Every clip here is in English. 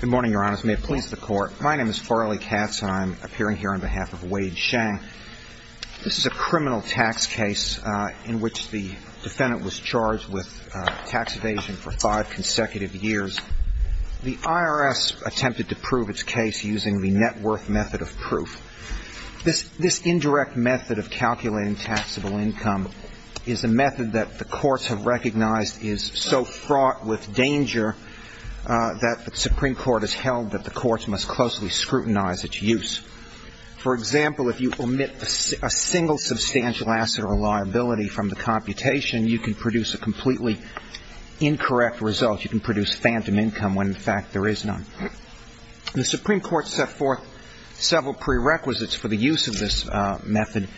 Good morning, Your Honors. May it please the Court. My name is Farley Katz and I'm appearing here on behalf of Wade Shang. This is a criminal tax case in which the defendant was charged with tax evasion for five consecutive years. The IRS attempted to prove its case using the net worth method of proof. This indirect method of calculating taxable income is a method that the courts have recognized is so fraught with danger that the Supreme Court has held that the courts must closely scrutinize its use. For example, if you omit a single substantial asset or liability from the computation, you can produce a completely incorrect result. You can produce phantom income when, in fact, there is none. The Supreme Court set forth several prerequisites for the use of this method,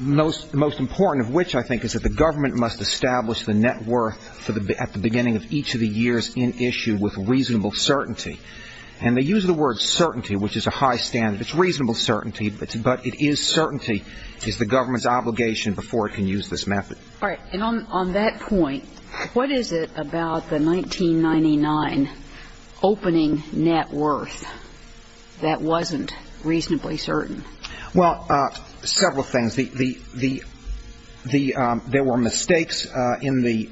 most important of which, I think, is that the government must establish the net worth at the beginning of each of the years in issue with reasonable certainty. And they use the word certainty, which is a high standard. It's reasonable certainty, but it is certainty is the government's obligation before it can use this method. All right. And on that point, what is it about the 1999 opening net worth that wasn't reasonably certain? Well, several things. There were mistakes in the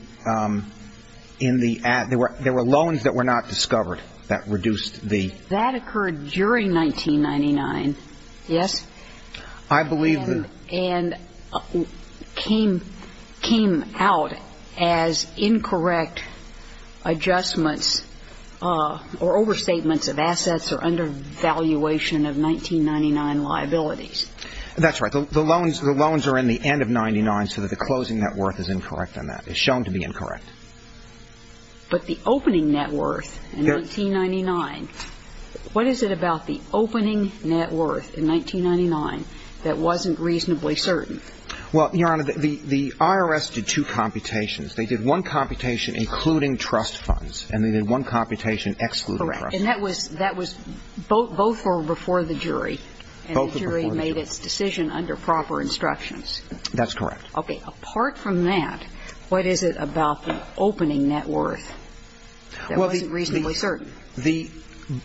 ad. There were loans that were not discovered that reduced the ad. That occurred during 1999, yes? I believe that. And came out as incorrect adjustments or overstatements of assets or undervaluation of 1999 liabilities. That's right. The loans are in the end of 1999, so the closing net worth is incorrect on that. It's shown to be incorrect. But the opening net worth in 1999, what is it about the opening net worth in 1999 that wasn't reasonably certain? Well, Your Honor, the IRS did two computations. They did one computation including trust funds, and they did one computation excluding trust funds. Correct. And that was both before the jury. Both before the jury. And the jury made its decision under proper instructions. That's correct. Okay. Apart from that, what is it about the opening net worth that wasn't reasonably certain?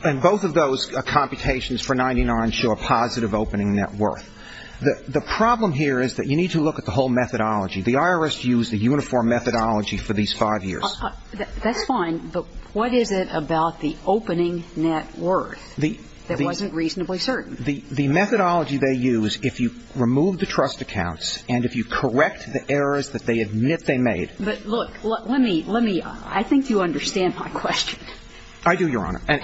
And both of those computations for 1999 show a positive opening net worth. The problem here is that you need to look at the whole methodology. The IRS used a uniform methodology for these five years. That's fine, but what is it about the opening net worth that wasn't reasonably certain? The methodology they used, if you remove the trust accounts and if you correct the errors that they admit they made. But look, let me – I think you understand my question. I do, Your Honor. And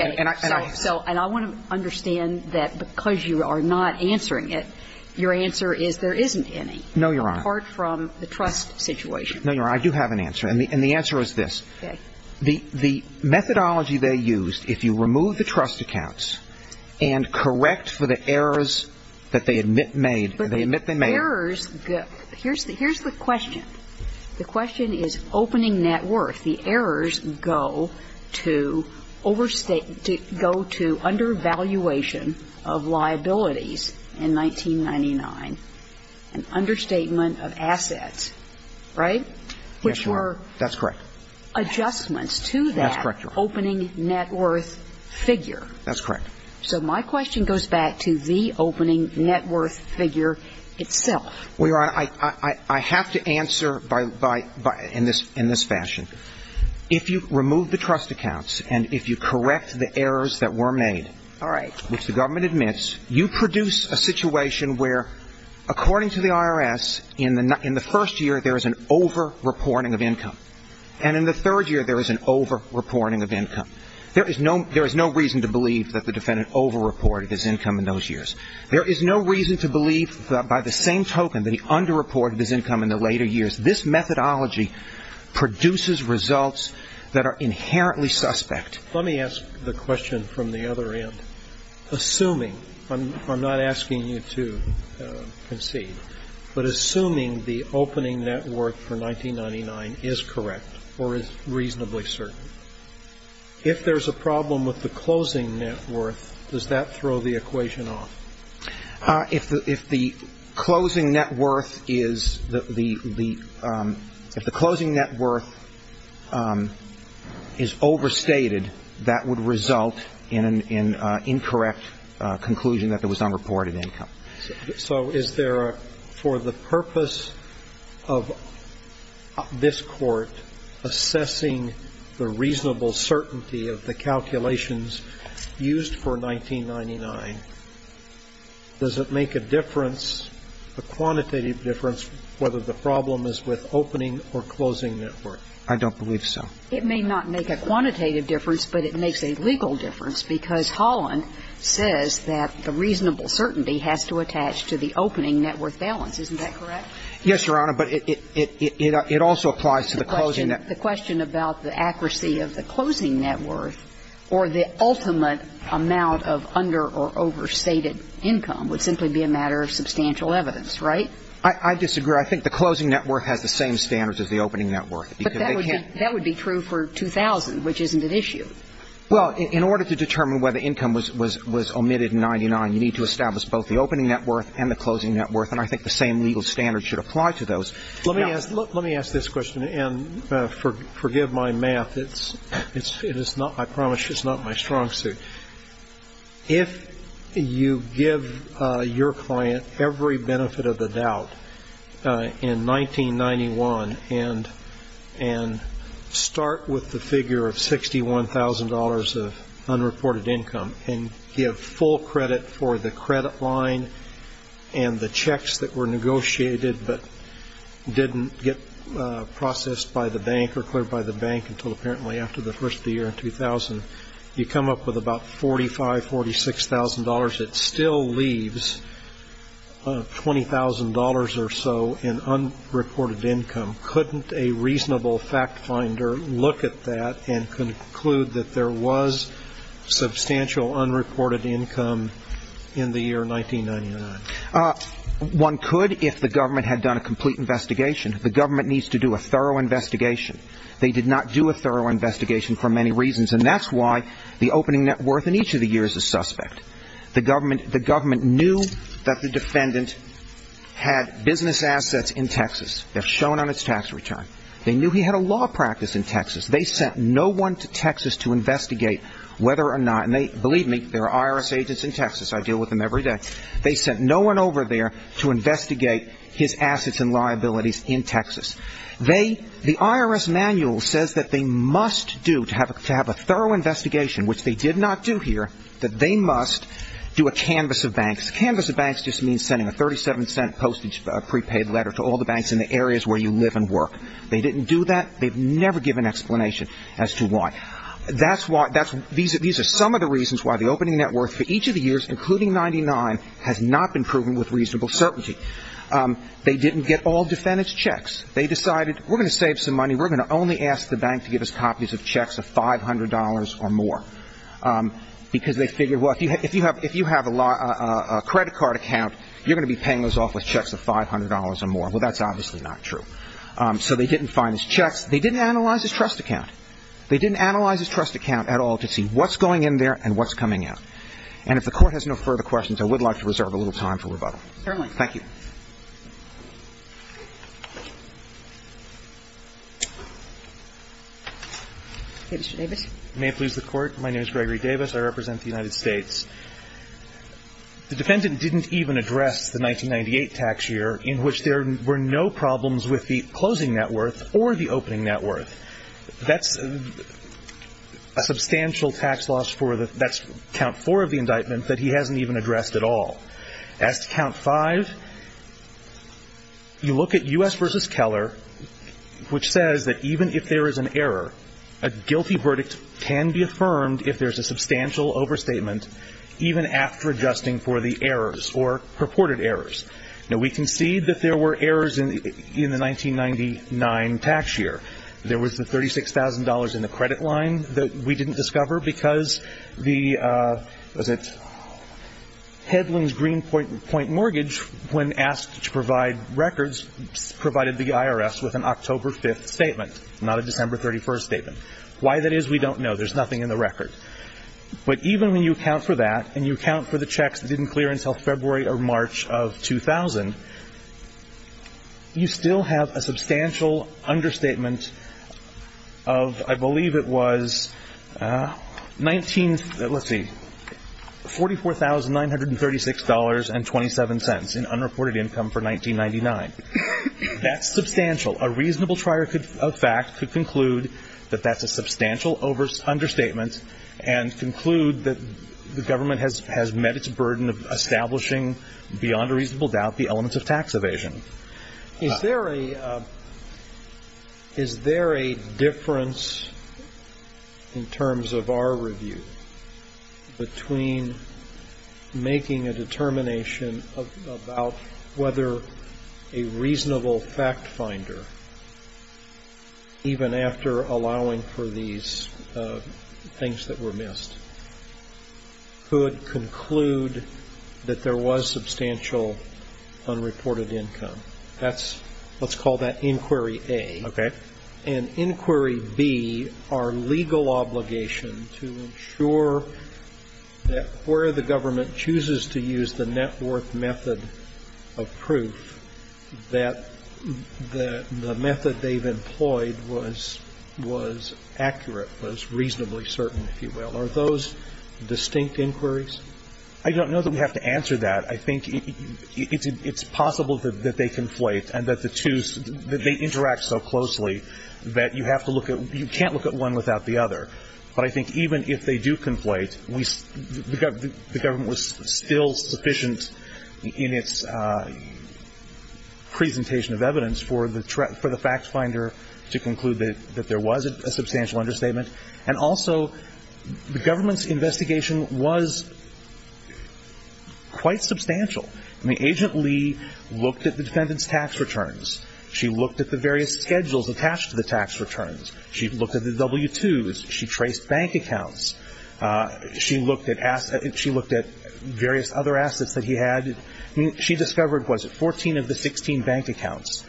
I want to understand that because you are not answering it, your answer is there isn't any. No, Your Honor. Apart from the trust situation. No, Your Honor. I do have an answer, and the answer is this. Okay. The methodology they used, if you remove the trust accounts and correct for the errors that they admit they made. But the errors – here's the question. The question is opening net worth. The errors go to overstate – go to undervaluation of liabilities in 1999, an understatement of assets, right? Yes, Your Honor. That's correct. And there are adjustments to that opening net worth figure. That's correct. So my question goes back to the opening net worth figure itself. Well, Your Honor, I have to answer by – in this fashion. If you remove the trust accounts and if you correct the errors that were made. All right. you produce a situation where, according to the IRS, in the first year there is an over-reporting of income. And in the third year there is an over-reporting of income. There is no reason to believe that the defendant over-reported his income in those years. There is no reason to believe by the same token that he under-reported his income in the later years. This methodology produces results that are inherently suspect. Let me ask the question from the other end. Assuming – I'm not asking you to concede – but assuming the opening net worth for 1999 is correct or is reasonably certain, if there is a problem with the closing net worth, does that throw the equation off? If the closing net worth is – if the closing net worth is overstated, that would result in an incorrect conclusion that there was under-reported income. So is there a – for the purpose of this Court assessing the reasonable certainty of the calculations used for 1999, does it make a difference, a quantitative difference, whether the problem is with opening or closing net worth? I don't believe so. It may not make a quantitative difference, but it makes a legal difference, because Holland says that the reasonable certainty has to attach to the opening net worth balance. Isn't that correct? Yes, Your Honor, but it also applies to the closing net worth. The question about the accuracy of the closing net worth or the ultimate amount of under- or overstated income would simply be a matter of substantial evidence, right? I disagree. I think the closing net worth has the same standards as the opening net worth. But that would be true for 2000, which isn't an issue. Well, in order to determine whether income was omitted in 1999, you need to establish both the opening net worth and the closing net worth, and I think the same legal standards should apply to those. Let me ask this question, and forgive my math. It is not, I promise you, it's not my strong suit. If you give your client every benefit of the doubt in 1991 and start with the figure of $61,000 of unreported income and give full credit for the credit line and the checks that were negotiated but didn't get processed by the bank or cleared by the bank until apparently after the first year in 2000, you come up with about $45,000, $46,000. It still leaves $20,000 or so in unreported income. Couldn't a reasonable fact finder look at that and conclude that there was substantial unreported income in the year 1999? One could if the government had done a complete investigation. The government needs to do a thorough investigation. They did not do a thorough investigation for many reasons, and that's why the opening net worth in each of the years is suspect. The government knew that the defendant had business assets in Texas. They're shown on its tax return. They knew he had a law practice in Texas. They sent no one to Texas to investigate whether or not, and believe me, there are IRS agents in Texas. I deal with them every day. They sent no one over there to investigate his assets and liabilities in Texas. The IRS manual says that they must do, to have a thorough investigation, which they did not do here, that they must do a canvas of banks. Canvas of banks just means sending a $0.37 postage prepaid letter to all the banks in the areas where you live and work. They didn't do that. They've never given explanation as to why. These are some of the reasons why the opening net worth for each of the years, including 1999, has not been proven with reasonable certainty. They didn't get all defendants' checks. They decided we're going to save some money. We're going to only ask the bank to give us copies of checks of $500 or more because they figured, well, if you have a credit card account, you're going to be paying those off with checks of $500 or more. Well, that's obviously not true. So they didn't find his checks. They didn't analyze his trust account. They didn't analyze his trust account at all to see what's going in there and what's coming out. Ms. Davis. May it please the Court. My name is Gregory Davis. I represent the United States. The defendant didn't even address the 1998 tax year in which there were no problems with the closing net worth or the opening net worth. That's a substantial tax loss for the – that's count four of the indictment That's count five of the indictment. Five, you look at U.S. v. Keller, which says that even if there is an error, a guilty verdict can be affirmed if there's a substantial overstatement even after adjusting for the errors or purported errors. Now, we can see that there were errors in the 1999 tax year. There was the $36,000 in the credit line that we didn't discover because the – was it – Hedlund's Greenpoint Mortgage, when asked to provide records, provided the IRS with an October 5th statement, not a December 31st statement. Why that is, we don't know. There's nothing in the record. But even when you account for that and you account for the checks that didn't clear until February or March of 2000, you still have a substantial understatement of, I believe it was, 19 – let's see, $44,936.27 in unreported income for 1999. That's substantial. A reasonable trier of fact could conclude that that's a substantial understatement and conclude that the government has met its burden of establishing, beyond a reasonable doubt, the elements of tax evasion. Is there a difference in terms of our review between making a determination about whether a reasonable fact finder, even after allowing for these things that were missed, could conclude that there was substantial unreported income? That's – let's call that Inquiry A. Okay. And Inquiry B, our legal obligation to ensure that where the government chooses to use the net worth method of proof, that the method they've employed was accurate, was reasonably certain, if you will, are those distinct inquiries? I don't know that we have to answer that. I think it's possible that they conflate and that the two – that they interact so closely that you have to look at – you can't look at one without the other. But I think even if they do conflate, we – the government was still sufficient in its presentation of evidence for the fact finder to conclude that there was a substantial understatement, and also the government's investigation was quite substantial. I mean, Agent Lee looked at the defendant's tax returns. She looked at the various schedules attached to the tax returns. She looked at the W-2s. She traced bank accounts. She looked at various other assets that he had. She discovered, what was it, 14 of the 16 bank accounts.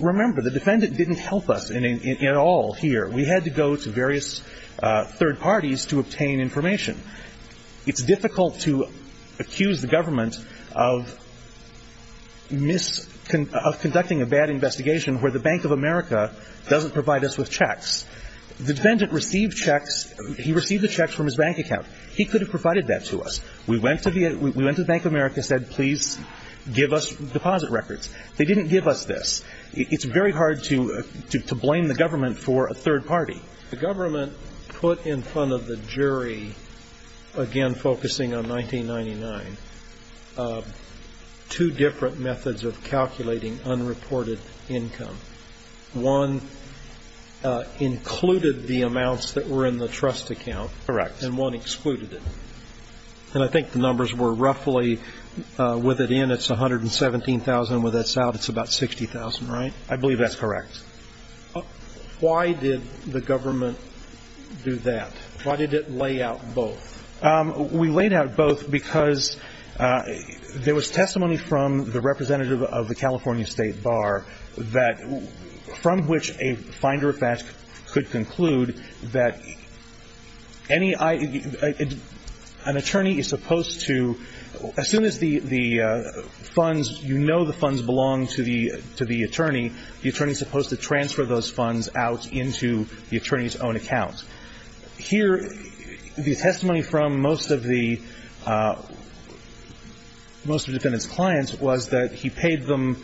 Remember, the defendant didn't help us at all here. We had to go to various third parties to obtain information. It's difficult to accuse the government of conducting a bad investigation where the Bank of America doesn't provide us with checks. The defendant received checks – he received the checks from his bank account. He could have provided that to us. We went to the Bank of America and said, please give us deposit records. They didn't give us this. It's very hard to blame the government for a third party. The government put in front of the jury, again focusing on 1999, two different methods of calculating unreported income. One included the amounts that were in the trust account. Correct. And one excluded it. And I think the numbers were roughly, with it in, it's 117,000. With this out, it's about 60,000, right? I believe that's correct. Why did the government do that? Why did it lay out both? We laid out both because there was testimony from the representative of the California State Bar from which a finder of facts could conclude that an attorney is supposed to – the attorney is supposed to transfer those funds out into the attorney's own account. Here, the testimony from most of the defendants' clients was that he paid them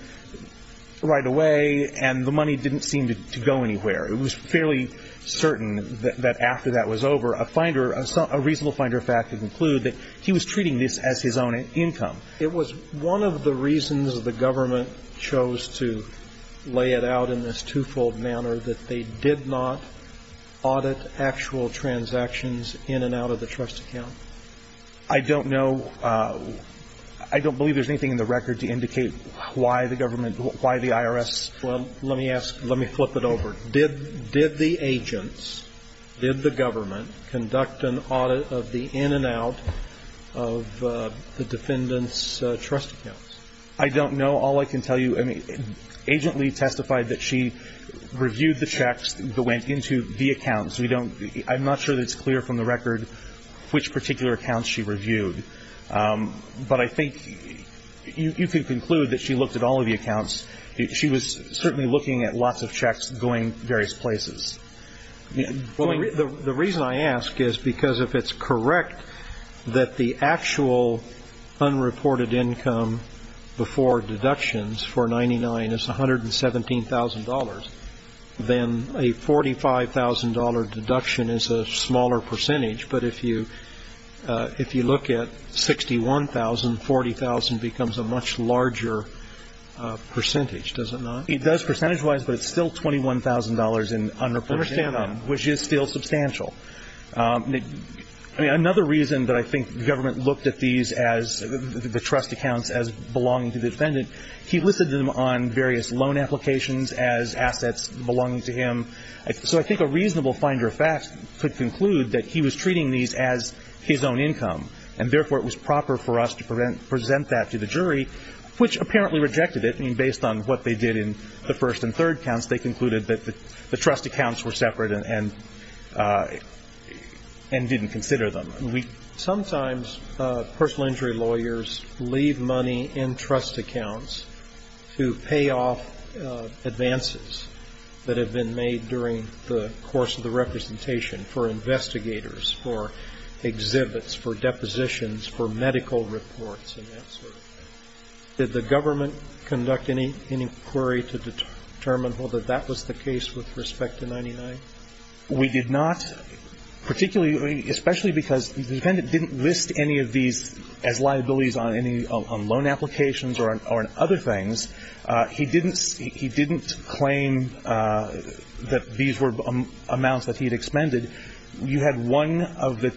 right away and the money didn't seem to go anywhere. It was fairly certain that after that was over, a reasonable finder of facts could conclude that he was treating this as his own income. It was one of the reasons the government chose to lay it out in this two-fold manner, that they did not audit actual transactions in and out of the trust account. I don't know. I don't believe there's anything in the record to indicate why the government – why the IRS. Well, let me ask – let me flip it over. Did the agents, did the government conduct an audit of the in and out of the defendants' trust accounts? I don't know. All I can tell you – I mean, Agent Lee testified that she reviewed the checks that went into the accounts. We don't – I'm not sure that it's clear from the record which particular accounts she reviewed. But I think you can conclude that she looked at all of the accounts. She was certainly looking at lots of checks going various places. The reason I ask is because if it's correct that the actual unreported income before deductions for 99 is $117,000, then a $45,000 deduction is a smaller percentage. But if you – if you look at 61,000, 40,000 becomes a much larger percentage, does it not? It does percentage-wise, but it's still $21,000 in unreported income. I understand that. Which is still substantial. I mean, another reason that I think the government looked at these as – the trust accounts as belonging to the defendant, he listed them on various loan applications as assets belonging to him. So I think a reasonable finder of facts could conclude that he was treating these as his own income, and therefore it was proper for us to present that to the jury, which apparently rejected it. I mean, based on what they did in the first and third counts, they concluded that the trust accounts were separate and didn't consider them. Sometimes personal injury lawyers leave money in trust accounts to pay off advances that have been made during the course of the representation for investigators, for exhibits, for depositions, for medical reports and that sort of thing. Did the government conduct any inquiry to determine whether that was the case with respect to 99? We did not, particularly – especially because the defendant didn't list any of these as liabilities on any loan applications or on other things. He didn't claim that these were amounts that he had expended. You had one of the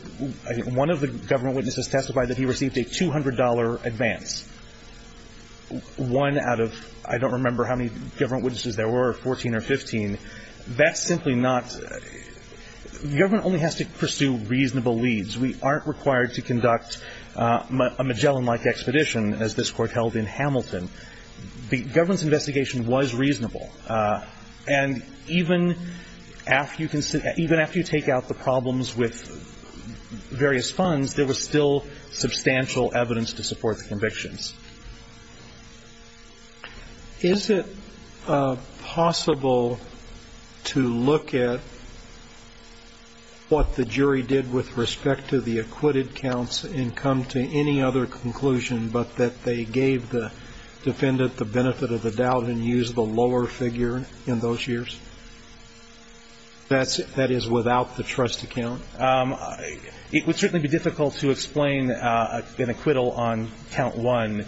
government witnesses testify that he received a $200 advance. One out of – I don't remember how many government witnesses there were, 14 or 15. That's simply not – the government only has to pursue reasonable leads. We aren't required to conduct a Magellan-like expedition, as this Court held in Hamilton. The government's investigation was reasonable. And even after you take out the problems with various funds, is it possible to look at what the jury did with respect to the acquitted counts and come to any other conclusion but that they gave the defendant the benefit of the doubt and used the lower figure in those years, that is, without the trust account? It would certainly be difficult to explain an acquittal on Count 1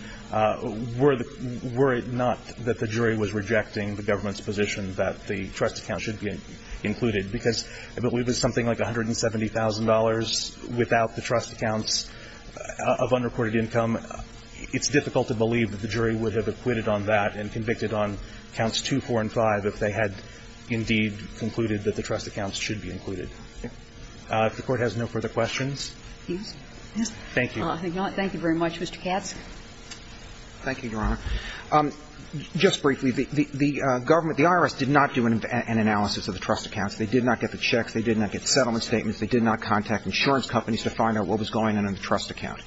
were it not that the jury was rejecting the government's position that the trust account should be included, because if it was something like $170,000 without the trust accounts of unreported income, it's difficult to believe that the jury would have acquitted on that and convicted on Counts 2, 4, and 5 if they had indeed concluded that the trust accounts should be included. If the Court has no further questions. Thank you. Thank you very much. Mr. Katz? Thank you, Your Honor. Just briefly, the government – the IRS did not do an analysis of the trust accounts. They did not get the checks. They did not get settlement statements. They did not contact insurance companies to find out what was going on in the trust account.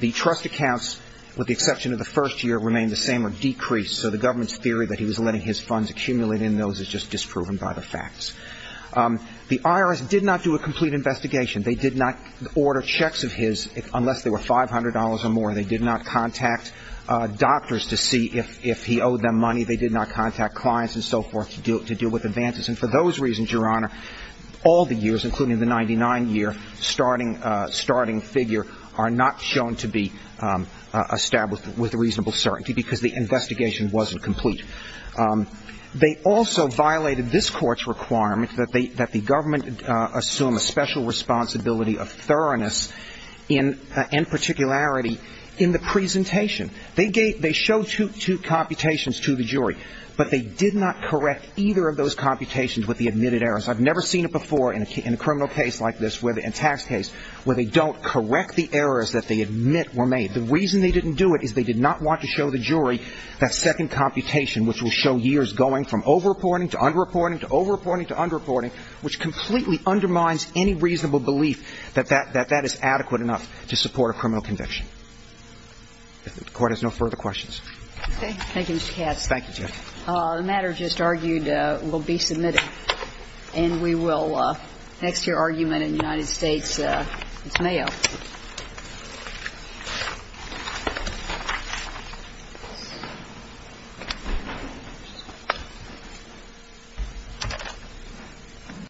The trust accounts, with the exception of the first year, remained the same or decreased. So the government's theory that he was letting his funds accumulate in those is just disproven by the facts. The IRS did not do a complete investigation. They did not order checks of his unless they were $500 or more. They did not contact doctors to see if he owed them money. They did not contact clients and so forth to deal with advances. And for those reasons, Your Honor, all the years, including the 99-year starting figure, are not shown to be established with reasonable certainty because the investigation wasn't complete. They also violated this Court's requirement that the government assume a special responsibility of thoroughness and particularity in the presentation. They showed two computations to the jury, but they did not correct either of those computations with the admitted errors. I've never seen it before in a criminal case like this, in a tax case, where they don't correct the errors that they admit were made. The reason they didn't do it is they did not want to show the jury that second computation, which will show years going from over-reporting to under-reporting to over-reporting to under-reporting, which completely undermines any reasonable belief that that is adequate enough to support a criminal conviction. If the Court has no further questions. Okay. Thank you, Mr. Katz. Thank you, Judge. Thank you.